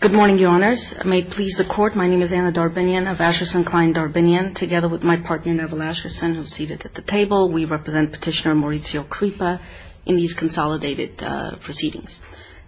Good morning, Your Honors. May it please the Court, my name is Anna Darbinian of Asherson Klein Darbinian. Together with my partner Neville Asherson, who is seated at the table, we represent Petitioner Maurizio Crippa in these consolidated proceedings.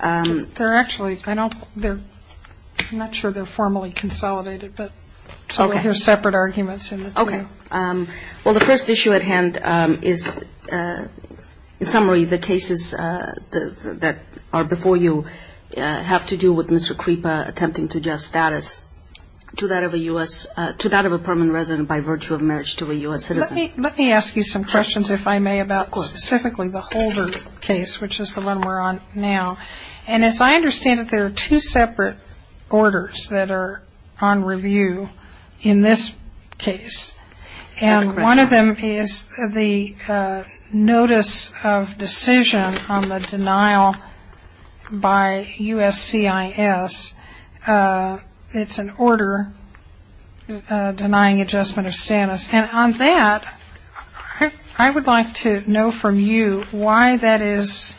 They're actually, I don't, I'm not sure they're formally consolidated, but so we hear separate arguments in the two. Well, the first issue at hand is, in summary, the cases that are before you have to do with Mr. Crippa attempting to adjust status to that of a U.S., to that of a permanent resident by virtue of marriage to a U.S. citizen. Let me, let me ask you some questions, if I may, about specifically the Holder case, which is the one we're on now. And as I understand it, there are two separate orders that are on review in this case. And one of them is the notice of decision on the denial by USCIS. It's an order denying adjustment of status. And on that, I would like to know from you why that is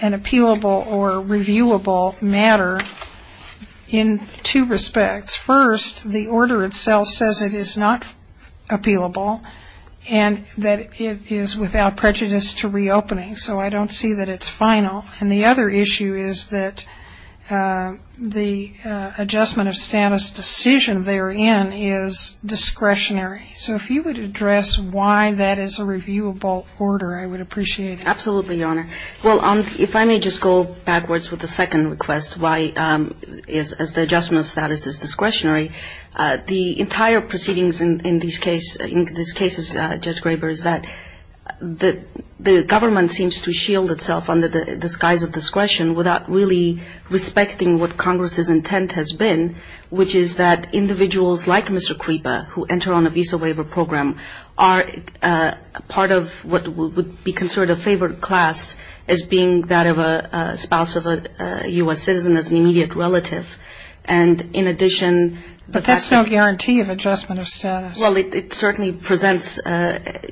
an appealable or reviewable matter in two respects. First, the order itself says it is not appealable and that it is without prejudice to reopening. So I don't see that it's final. And the other issue is that the adjustment of status decision therein is discretionary. So if you would address why that is a reviewable order, I would appreciate it. Absolutely, Your Honor. Well, if I may just go backwards with the second request, why, as the adjustment of status is discretionary, the entire proceedings in these cases, Judge Graber, is that the government seems to shield itself under the disguise of discretion without really respecting what Congress's intent has been, which is that individuals like Mr. Creeper, who enter on a visa waiver program, are part of what would be considered a favored class as being that of a spouse of a U.S. citizen as an immediate relative. But that's no guarantee of adjustment of status. Well, it certainly presents,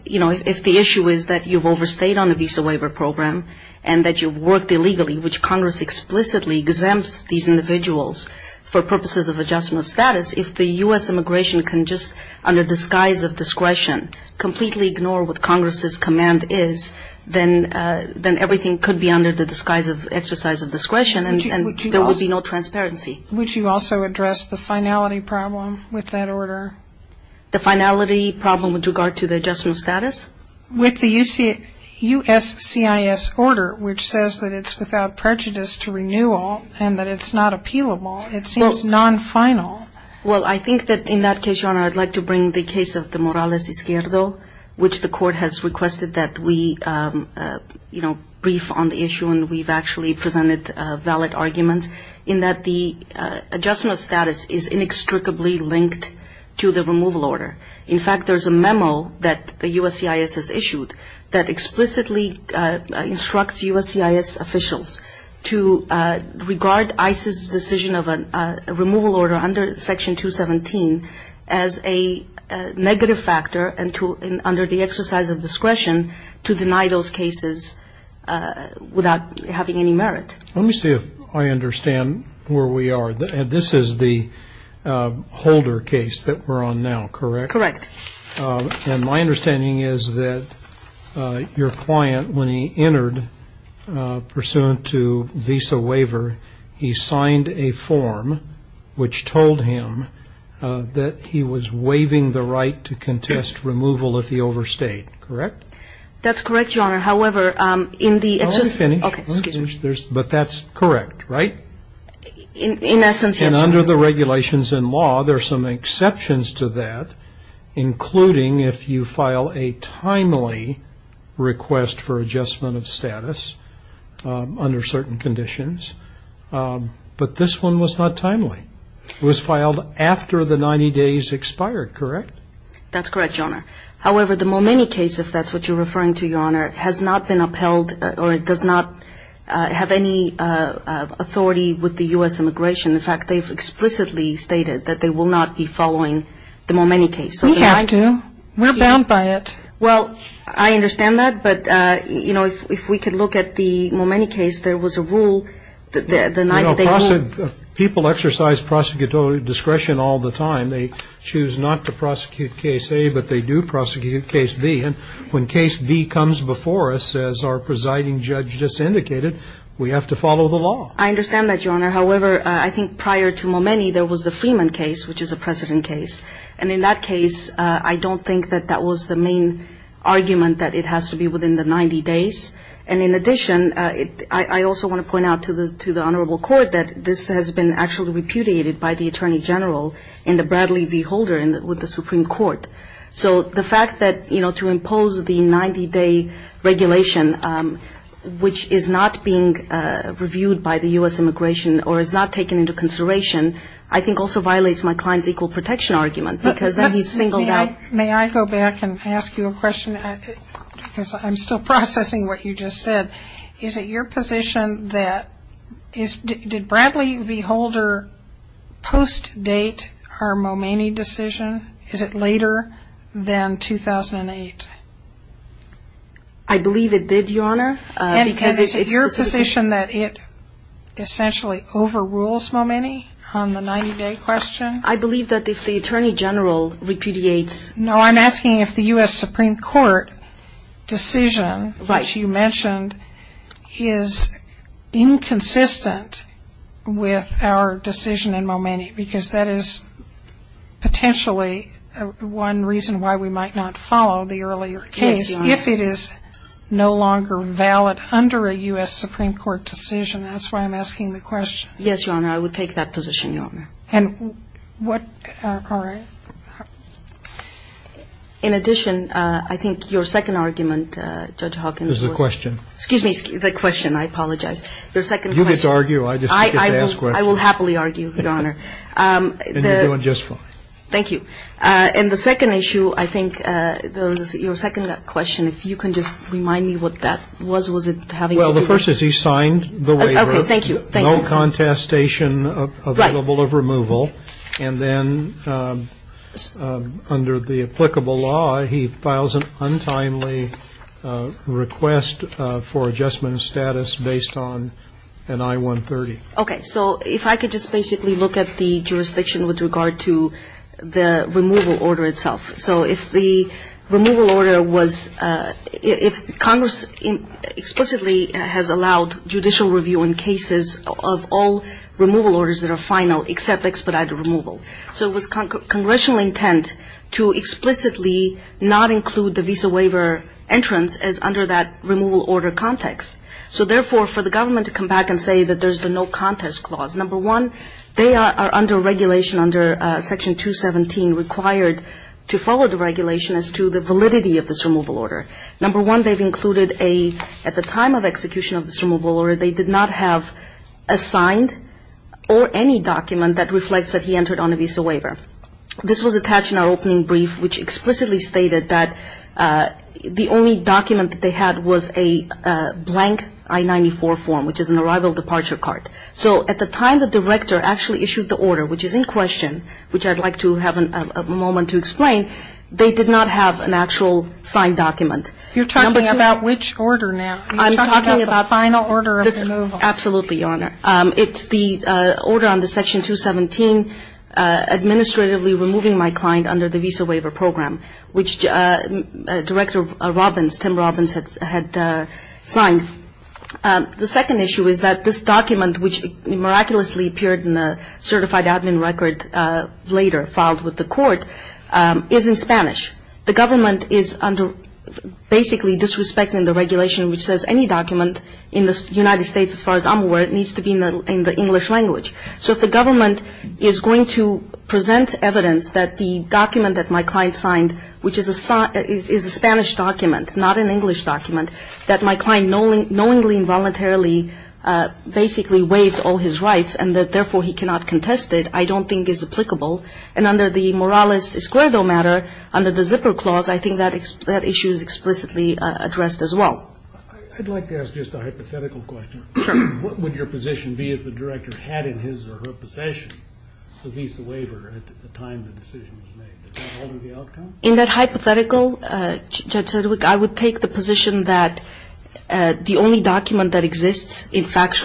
you know, if the issue is that you've overstayed on a visa waiver program and that you've worked illegally, which Congress explicitly exempts these individuals for purposes of adjustment of status, if the U.S. immigration can just, under disguise of discretion, completely ignore what Congress's command is, then everything could be under the disguise of exercise of discretion and there would be no transparency. Would you also address the finality problem with that order? The finality problem with regard to the adjustment of status? With the USCIS order, which says that it's without prejudice to renewal and that it's not appealable, it seems non-final. Well, I think that in that case, Your Honor, I'd like to bring the case of the Morales Izquierdo, which the court has requested that we, you know, brief on the issue and we've actually presented valid arguments, in that the adjustment of status is inextricably linked to the removal order. In fact, there's a memo that the USCIS has issued that explicitly instructs USCIS officials to regard ICE's decision of a removal order under Section 217 as a negative factor and to, under the exercise of discretion, to deny those cases without having any merit. Let me see if I understand where we are. This is the Holder case that we're on now, correct? Correct. And my understanding is that your client, when he entered pursuant to visa waiver, he signed a form which told him that he was waiving the right to contest removal if he overstayed. Correct? That's correct, Your Honor. However, in the... Oh, it's finished. Okay, excuse me. But that's correct, right? In essence, yes, Your Honor. And under the regulations and law, there are some exceptions to that, including if you file a timely request for adjustment of status under certain conditions. But this one was not timely. It was filed after the 90 days expired, correct? That's correct, Your Honor. However, the Momeni case, if that's what you're referring to, Your Honor, has not been upheld or does not have any authority with the U.S. immigration. In fact, they've explicitly stated that they will not be following the Momeni case. You have to. We're bound by it. Well, I understand that, but, you know, if we could look at the Momeni case. There was a rule that denied that they were... You know, people exercise prosecutorial discretion all the time. They choose not to prosecute case A, but they do prosecute case B. And when case B comes before us, as our presiding judge just indicated, we have to follow the law. I understand that, Your Honor. However, I think prior to Momeni, there was the Freeman case, which is a precedent case. And in that case, I don't think that that was the main argument, that it has to be within the 90 days. And in addition, I also want to point out to the Honorable Court that this has been actually repudiated by the Attorney General and the Bradley v. Holder with the Supreme Court. So the fact that, you know, to impose the 90-day regulation, which is not being reviewed by the U.S. Immigration or is not taken into consideration, I think also violates my client's equal protection argument because then he's singled out. May I go back and ask you a question? Because I'm still processing what you just said. Is it your position that did Bradley v. Holder post-date our Momeni decision? Is it later than 2008? I believe it did, Your Honor. And is it your position that it essentially overrules Momeni on the 90-day question? I believe that if the Attorney General repudiates. No, I'm asking if the U.S. Supreme Court decision which you mentioned is inconsistent with our decision in Momeni because that is potentially one reason why we might not follow the earlier case. Yes, Your Honor. If it is no longer valid under a U.S. Supreme Court decision, that's why I'm asking the question. Yes, Your Honor. I would take that position, Your Honor. And what are our other questions? In addition, I think your second argument, Judge Hawkins. This is a question. Excuse me, the question. I apologize. Your second question. You get to argue. I just get to ask questions. I will happily argue, Your Honor. And you're doing just fine. Thank you. And the second issue, I think, your second question, if you can just remind me what that was. Was it having to do with. Well, the first is he signed the waiver. Okay. Thank you. No contestation available of removal. Right. And then under the applicable law, he files an untimely request for adjustment of status based on an I-130. Okay. So if I could just basically look at the jurisdiction with regard to the removal order itself. So if the removal order was, if Congress explicitly has allowed judicial review in cases of all removal orders that are final except expedited removal. So it was congressional intent to explicitly not include the visa waiver entrance as under that removal order context. So therefore, for the government to come back and say that there's the no contest clause, number one, they are under regulation under section 217 required to follow the regulation as to the validity of this removal order. Number one, they've included a, at the time of execution of this removal order, they did not have a signed or any document that reflects that he entered on a visa waiver. This was attached in our opening brief, which explicitly stated that the only document that they had was a blank I-94 form, which is an arrival departure card. So at the time the director actually issued the order, which is in question, which I'd like to have a moment to explain, they did not have an actual signed document. You're talking about which order now? I'm talking about the final order of removal. Absolutely, Your Honor. It's the order under section 217, administratively removing my client under the visa waiver program, which Director Robbins, Tim Robbins, had signed. The second issue is that this document, which miraculously appeared in the certified admin record later filed with the court, is in Spanish. The government is basically disrespecting the regulation which says any document in the United States, as far as I'm aware, needs to be in the English language. So if the government is going to present evidence that the document that my client signed, which is a Spanish document, not an English document, that my client knowingly and voluntarily basically waived all his rights and that therefore he cannot contest it, I don't think is applicable. And under the Morales-Esquerdo matter, under the zipper clause, I think that issue is explicitly addressed as well. I'd like to ask just a hypothetical question. Sure. What would your position be if the director had in his or her possession the visa waiver at the time the decision was made? Is that already the outcome? In that hypothetical, Judge Sedgwick, I would take the position that the only document that exists in fact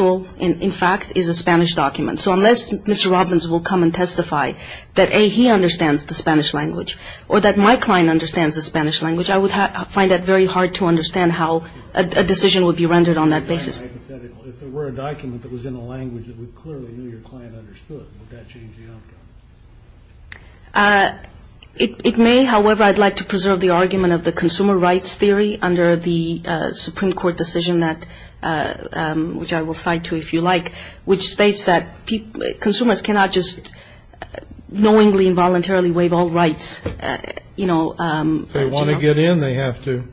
is a Spanish document. So unless Mr. Robbins will come and testify that, A, he understands the Spanish language or that my client understands the Spanish language, I would find that very hard to understand how a decision would be rendered on that basis. If there were a document that was in a language that we clearly knew your client understood, would that change the outcome? It may. However, I'd like to preserve the argument of the consumer rights theory under the Supreme Court decision that which I will cite to you if you like, which states that consumers cannot just knowingly and voluntarily waive all rights, you know. If they want to get in, they have to.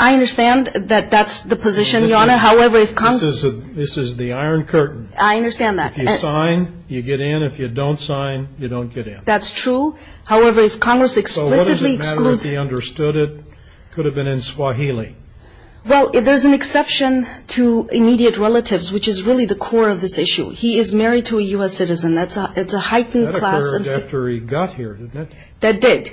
I understand that that's the position, Your Honor. However, if Congress. This is the iron curtain. I understand that. If you sign, you get in. If you don't sign, you don't get in. That's true. However, if Congress explicitly excludes. So what does it matter if he understood it? It could have been in Swahili. Well, there's an exception to immediate relatives, which is really the core of this issue. He is married to a U.S. citizen. That's a heightened class of. That occurred after he got here, didn't it? That did.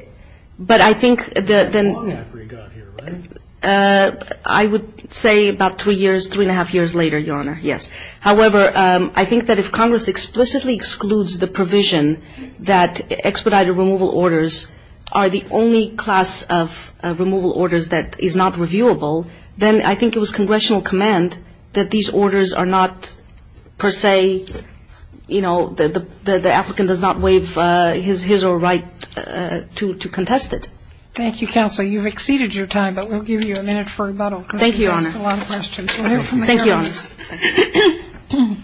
But I think that. Not after he got here, right? I would say about three years, three and a half years later, Your Honor, yes. However, I think that if Congress explicitly excludes the provision that expedited removal orders are the only class of removal orders that is not reviewable, then I think it was congressional command that these orders are not per se, you know, the applicant does not waive his or her right to contest it. Thank you, Counsel. You've exceeded your time, but we'll give you a minute for rebuttal. Thank you, Your Honor. That's a lot of questions. Thank you, Your Honor.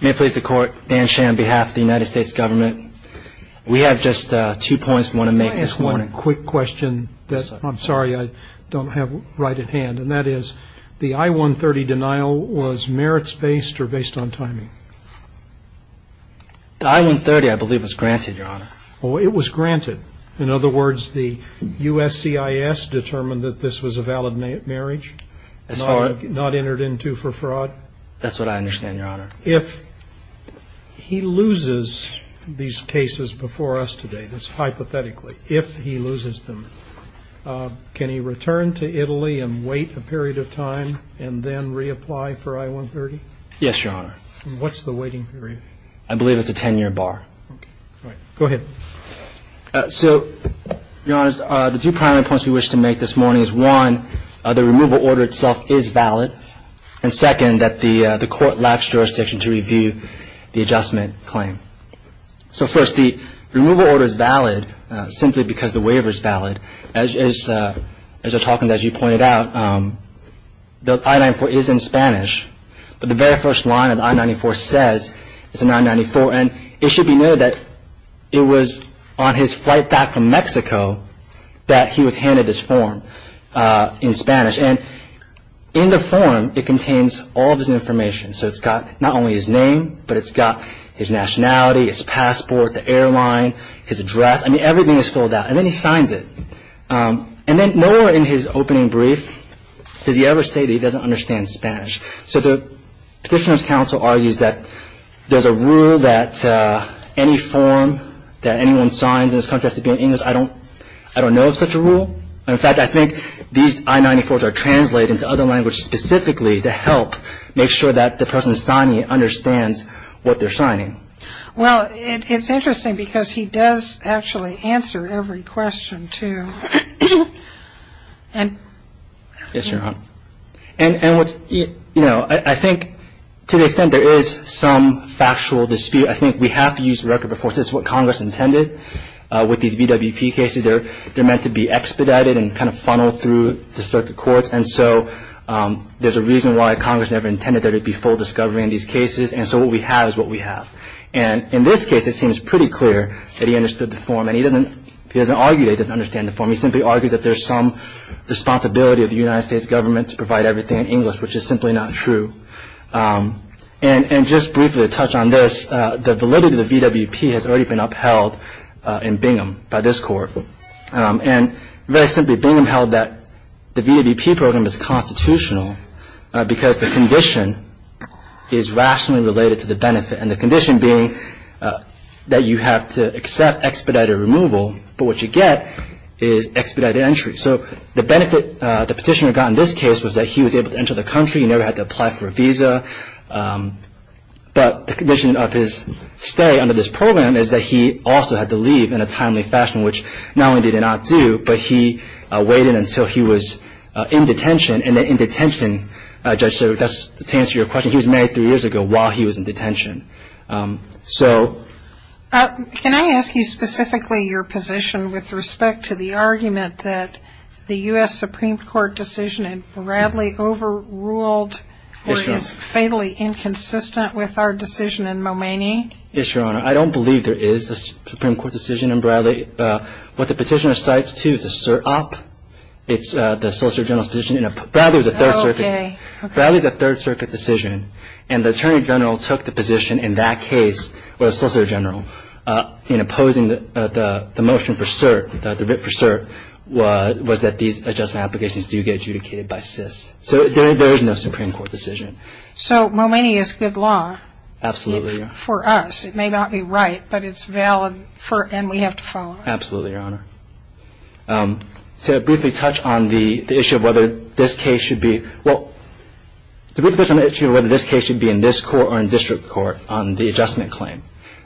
May it please the Court, Dan Shan on behalf of the United States Government. We have just two points we want to make this morning. Can I ask one quick question that I'm sorry I don't have right at hand, and that is the I-130 denial was merits-based or based on timing? The I-130, I believe, was granted, Your Honor. Oh, it was granted. In other words, the USCIS determined that this was a valid marriage, not entered into for fraud? That's what I understand, Your Honor. If he loses these cases before us today, hypothetically, if he loses them, can he return to Italy and wait a period of time and then reapply for I-130? Yes, Your Honor. What's the waiting period? I believe it's a 10-year bar. All right. Go ahead. So, Your Honor, the two primary points we wish to make this morning is, one, the removal order itself is valid, and, second, that the Court lapsed jurisdiction to review the adjustment claim. So, first, the removal order is valid simply because the waiver is valid. As you pointed out, the I-940 is in Spanish, but the very first line of the I-94 says it's an I-94, and it should be noted that it was on his flight back from Mexico that he was handed this form in Spanish. And in the form, it contains all of his information. So it's got not only his name, but it's got his nationality, his passport, the airline, his address. I mean, everything is filled out. And then he signs it. And then nowhere in his opening brief does he ever say that he doesn't understand Spanish. So the Petitioner's Counsel argues that there's a rule that any form that anyone signs in this country has to be in English. I don't know of such a rule. In fact, I think these I-94s are translated into other languages specifically to help make sure that the person signing it understands what they're signing. Well, it's interesting because he does actually answer every question, too. Yes, Your Honor. And, you know, I think to the extent there is some factual dispute, I think we have to use the record before. This is what Congress intended with these VWP cases. They're meant to be expedited and kind of funneled through the circuit courts. And so there's a reason why Congress never intended there to be full discovery in these cases. And so what we have is what we have. And in this case, it seems pretty clear that he understood the form. And he doesn't argue that he doesn't understand the form. He simply argues that there's some responsibility of the United States government to provide everything in English, which is simply not true. And just briefly to touch on this, the validity of the VWP has already been upheld in Bingham by this Court. And very simply, Bingham held that the VWP program is constitutional because the condition is rationally related to the benefit, and the condition being that you have to accept expedited removal, but what you get is expedited entry. So the benefit the petitioner got in this case was that he was able to enter the country. He never had to apply for a visa. But the condition of his stay under this program is that he also had to leave in a timely fashion, which not only did he not do, but he waited until he was in detention. And then in detention, Judge, to answer your question, he was married three years ago while he was in detention. Can I ask you specifically your position with respect to the argument that the U.S. Supreme Court decision in Bradley overruled or is fatally inconsistent with our decision in Momaney? Yes, Your Honor. I don't believe there is a Supreme Court decision in Bradley. What the petitioner cites, too, is a cert op. It's the Solicitor General's position. Bradley was a Third Circuit decision, and the Attorney General took the position in that case, or the Solicitor General, in opposing the motion for cert, the writ for cert, was that these adjustment applications do get adjudicated by SIS. So there is no Supreme Court decision. So Momaney is good law? Absolutely, Your Honor. For us. It may not be right, but it's valid, and we have to follow it. Absolutely, Your Honor. To briefly touch on the issue of whether this case should be in this court or in district court on the adjustment claim,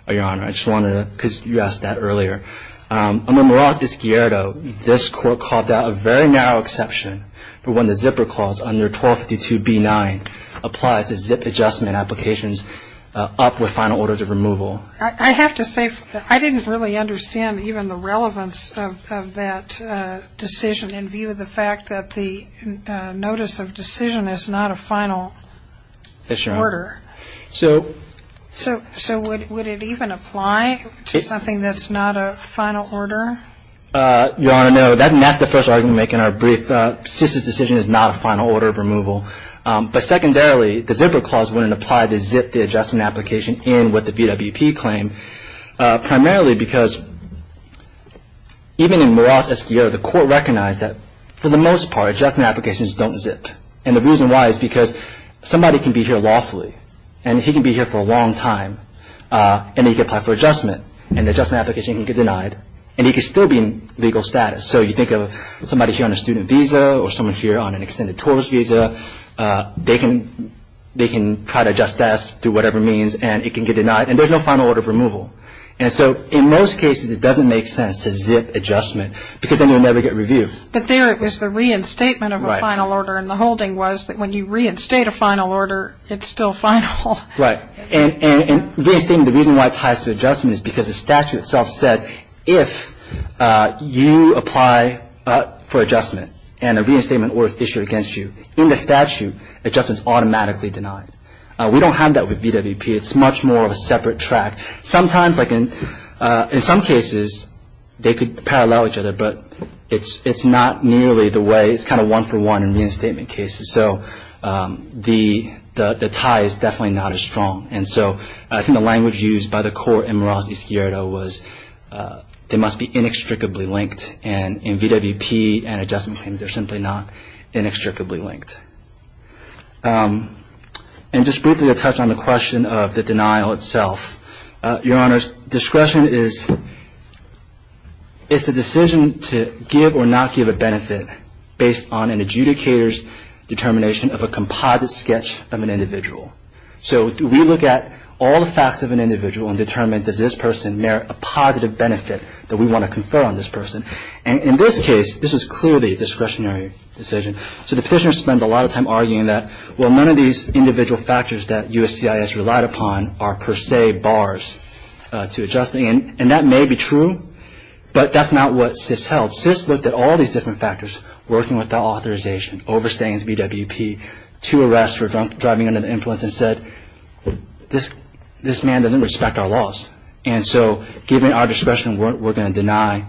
Your Honor, I just wanted to, because you asked that earlier. Under Morales v. Ghiardo, this court called that a very narrow exception, but when the Zipper Clause under 1252b-9 applies to ZIP adjustment applications up with final orders of removal. I have to say, I didn't really understand even the relevance of that decision in view of the fact that the notice of decision is not a final order. Yes, Your Honor. So would it even apply to something that's not a final order? Your Honor, no. That's the first argument we make in our brief. SIS's decision is not a final order of removal. But secondarily, the Zipper Clause wouldn't apply to ZIP the adjustment application in what the VWP claimed, primarily because even in Morales v. Ghiardo, the court recognized that, for the most part, adjustment applications don't ZIP. And the reason why is because somebody can be here lawfully, and he can be here for a long time, and he can apply for adjustment, and the adjustment application can get denied, and he can still be in legal status. So you think of somebody here on a student visa or someone here on an extended tourist visa, they can try to adjust status through whatever means, and it can get denied, and there's no final order of removal. And so in most cases, it doesn't make sense to ZIP adjustment because then you'll never get review. But there it was the reinstatement of a final order, and the holding was that when you reinstate a final order, it's still final. Right. And the reason why it ties to adjustment is because the statute itself says if you apply for adjustment and a reinstatement order is issued against you, in the statute, adjustment is automatically denied. We don't have that with VWP. It's much more of a separate track. Sometimes, like in some cases, they could parallel each other, but it's not nearly the way. It's kind of one-for-one in reinstatement cases. So the tie is definitely not as strong. And so I think the language used by the court in Morales v. Sciarra was they must be inextricably linked, and in VWP and adjustment claims, they're simply not inextricably linked. And just briefly to touch on the question of the denial itself. Your Honors, discretion is a decision to give or not give a benefit based on an adjudicator's determination of a composite sketch of an individual. So do we look at all the facts of an individual and determine does this person merit a positive benefit that we want to confer on this person? And in this case, this is clearly a discretionary decision. So the petitioner spends a lot of time arguing that, well, none of these individual factors that USCIS relied upon are per se bars to adjustment. And that may be true, but that's not what SIS held. SIS looked at all these different factors, working with the authorization, overstaying as VWP, to arrest for driving under the influence and said, this man doesn't respect our laws. And so given our discretion, we're going to deny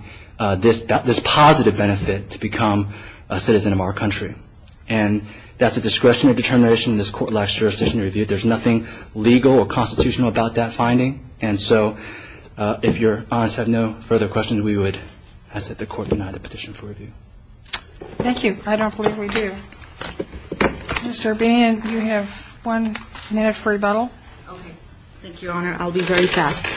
this positive benefit to become a citizen of our country. And that's a discretionary determination in this court-like jurisdictional review. There's nothing legal or constitutional about that finding. And so if Your Honors have no further questions, we would ask that the court deny the petition for review. Thank you. I don't believe we do. Mr. O'Brien, you have one minute for rebuttal. Okay. Thank you, Your Honor. I'll be very fast.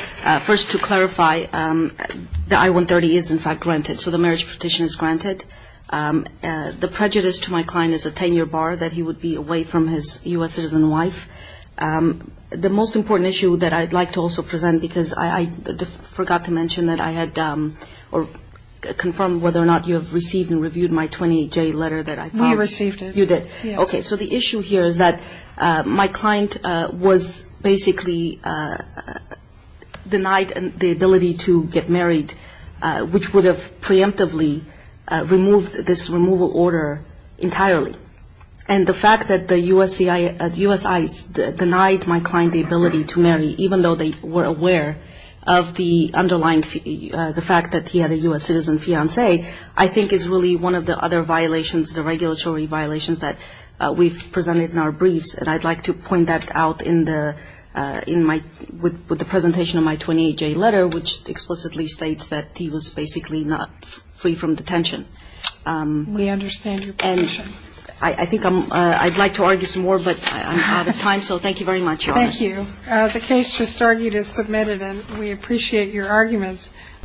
First, to clarify, the I-130 is, in fact, granted. So the marriage petition is granted. The prejudice to my client is a 10-year bar that he would be away from his U.S. citizen wife. The most important issue that I'd like to also present, because I forgot to mention that I had confirmed whether or not you have received and reviewed my 28-J letter that I filed. We received it. You did. Yes. Okay. So the issue here is that my client was basically denied the ability to get married, which would have preemptively removed this removal order entirely. And the fact that the USCIS denied my client the ability to marry, even though they were aware of the underlying fact that he had a U.S. citizen fiancee, I think is really one of the other violations, the regulatory violations that we've presented in our briefs. And I'd like to point that out with the presentation of my 28-J letter, which explicitly states that he was basically not free from detention. We understand your position. And I think I'd like to argue some more, but I'm out of time. So thank you very much, Your Honor. Thank you. The case just argued is submitted, and we appreciate your arguments.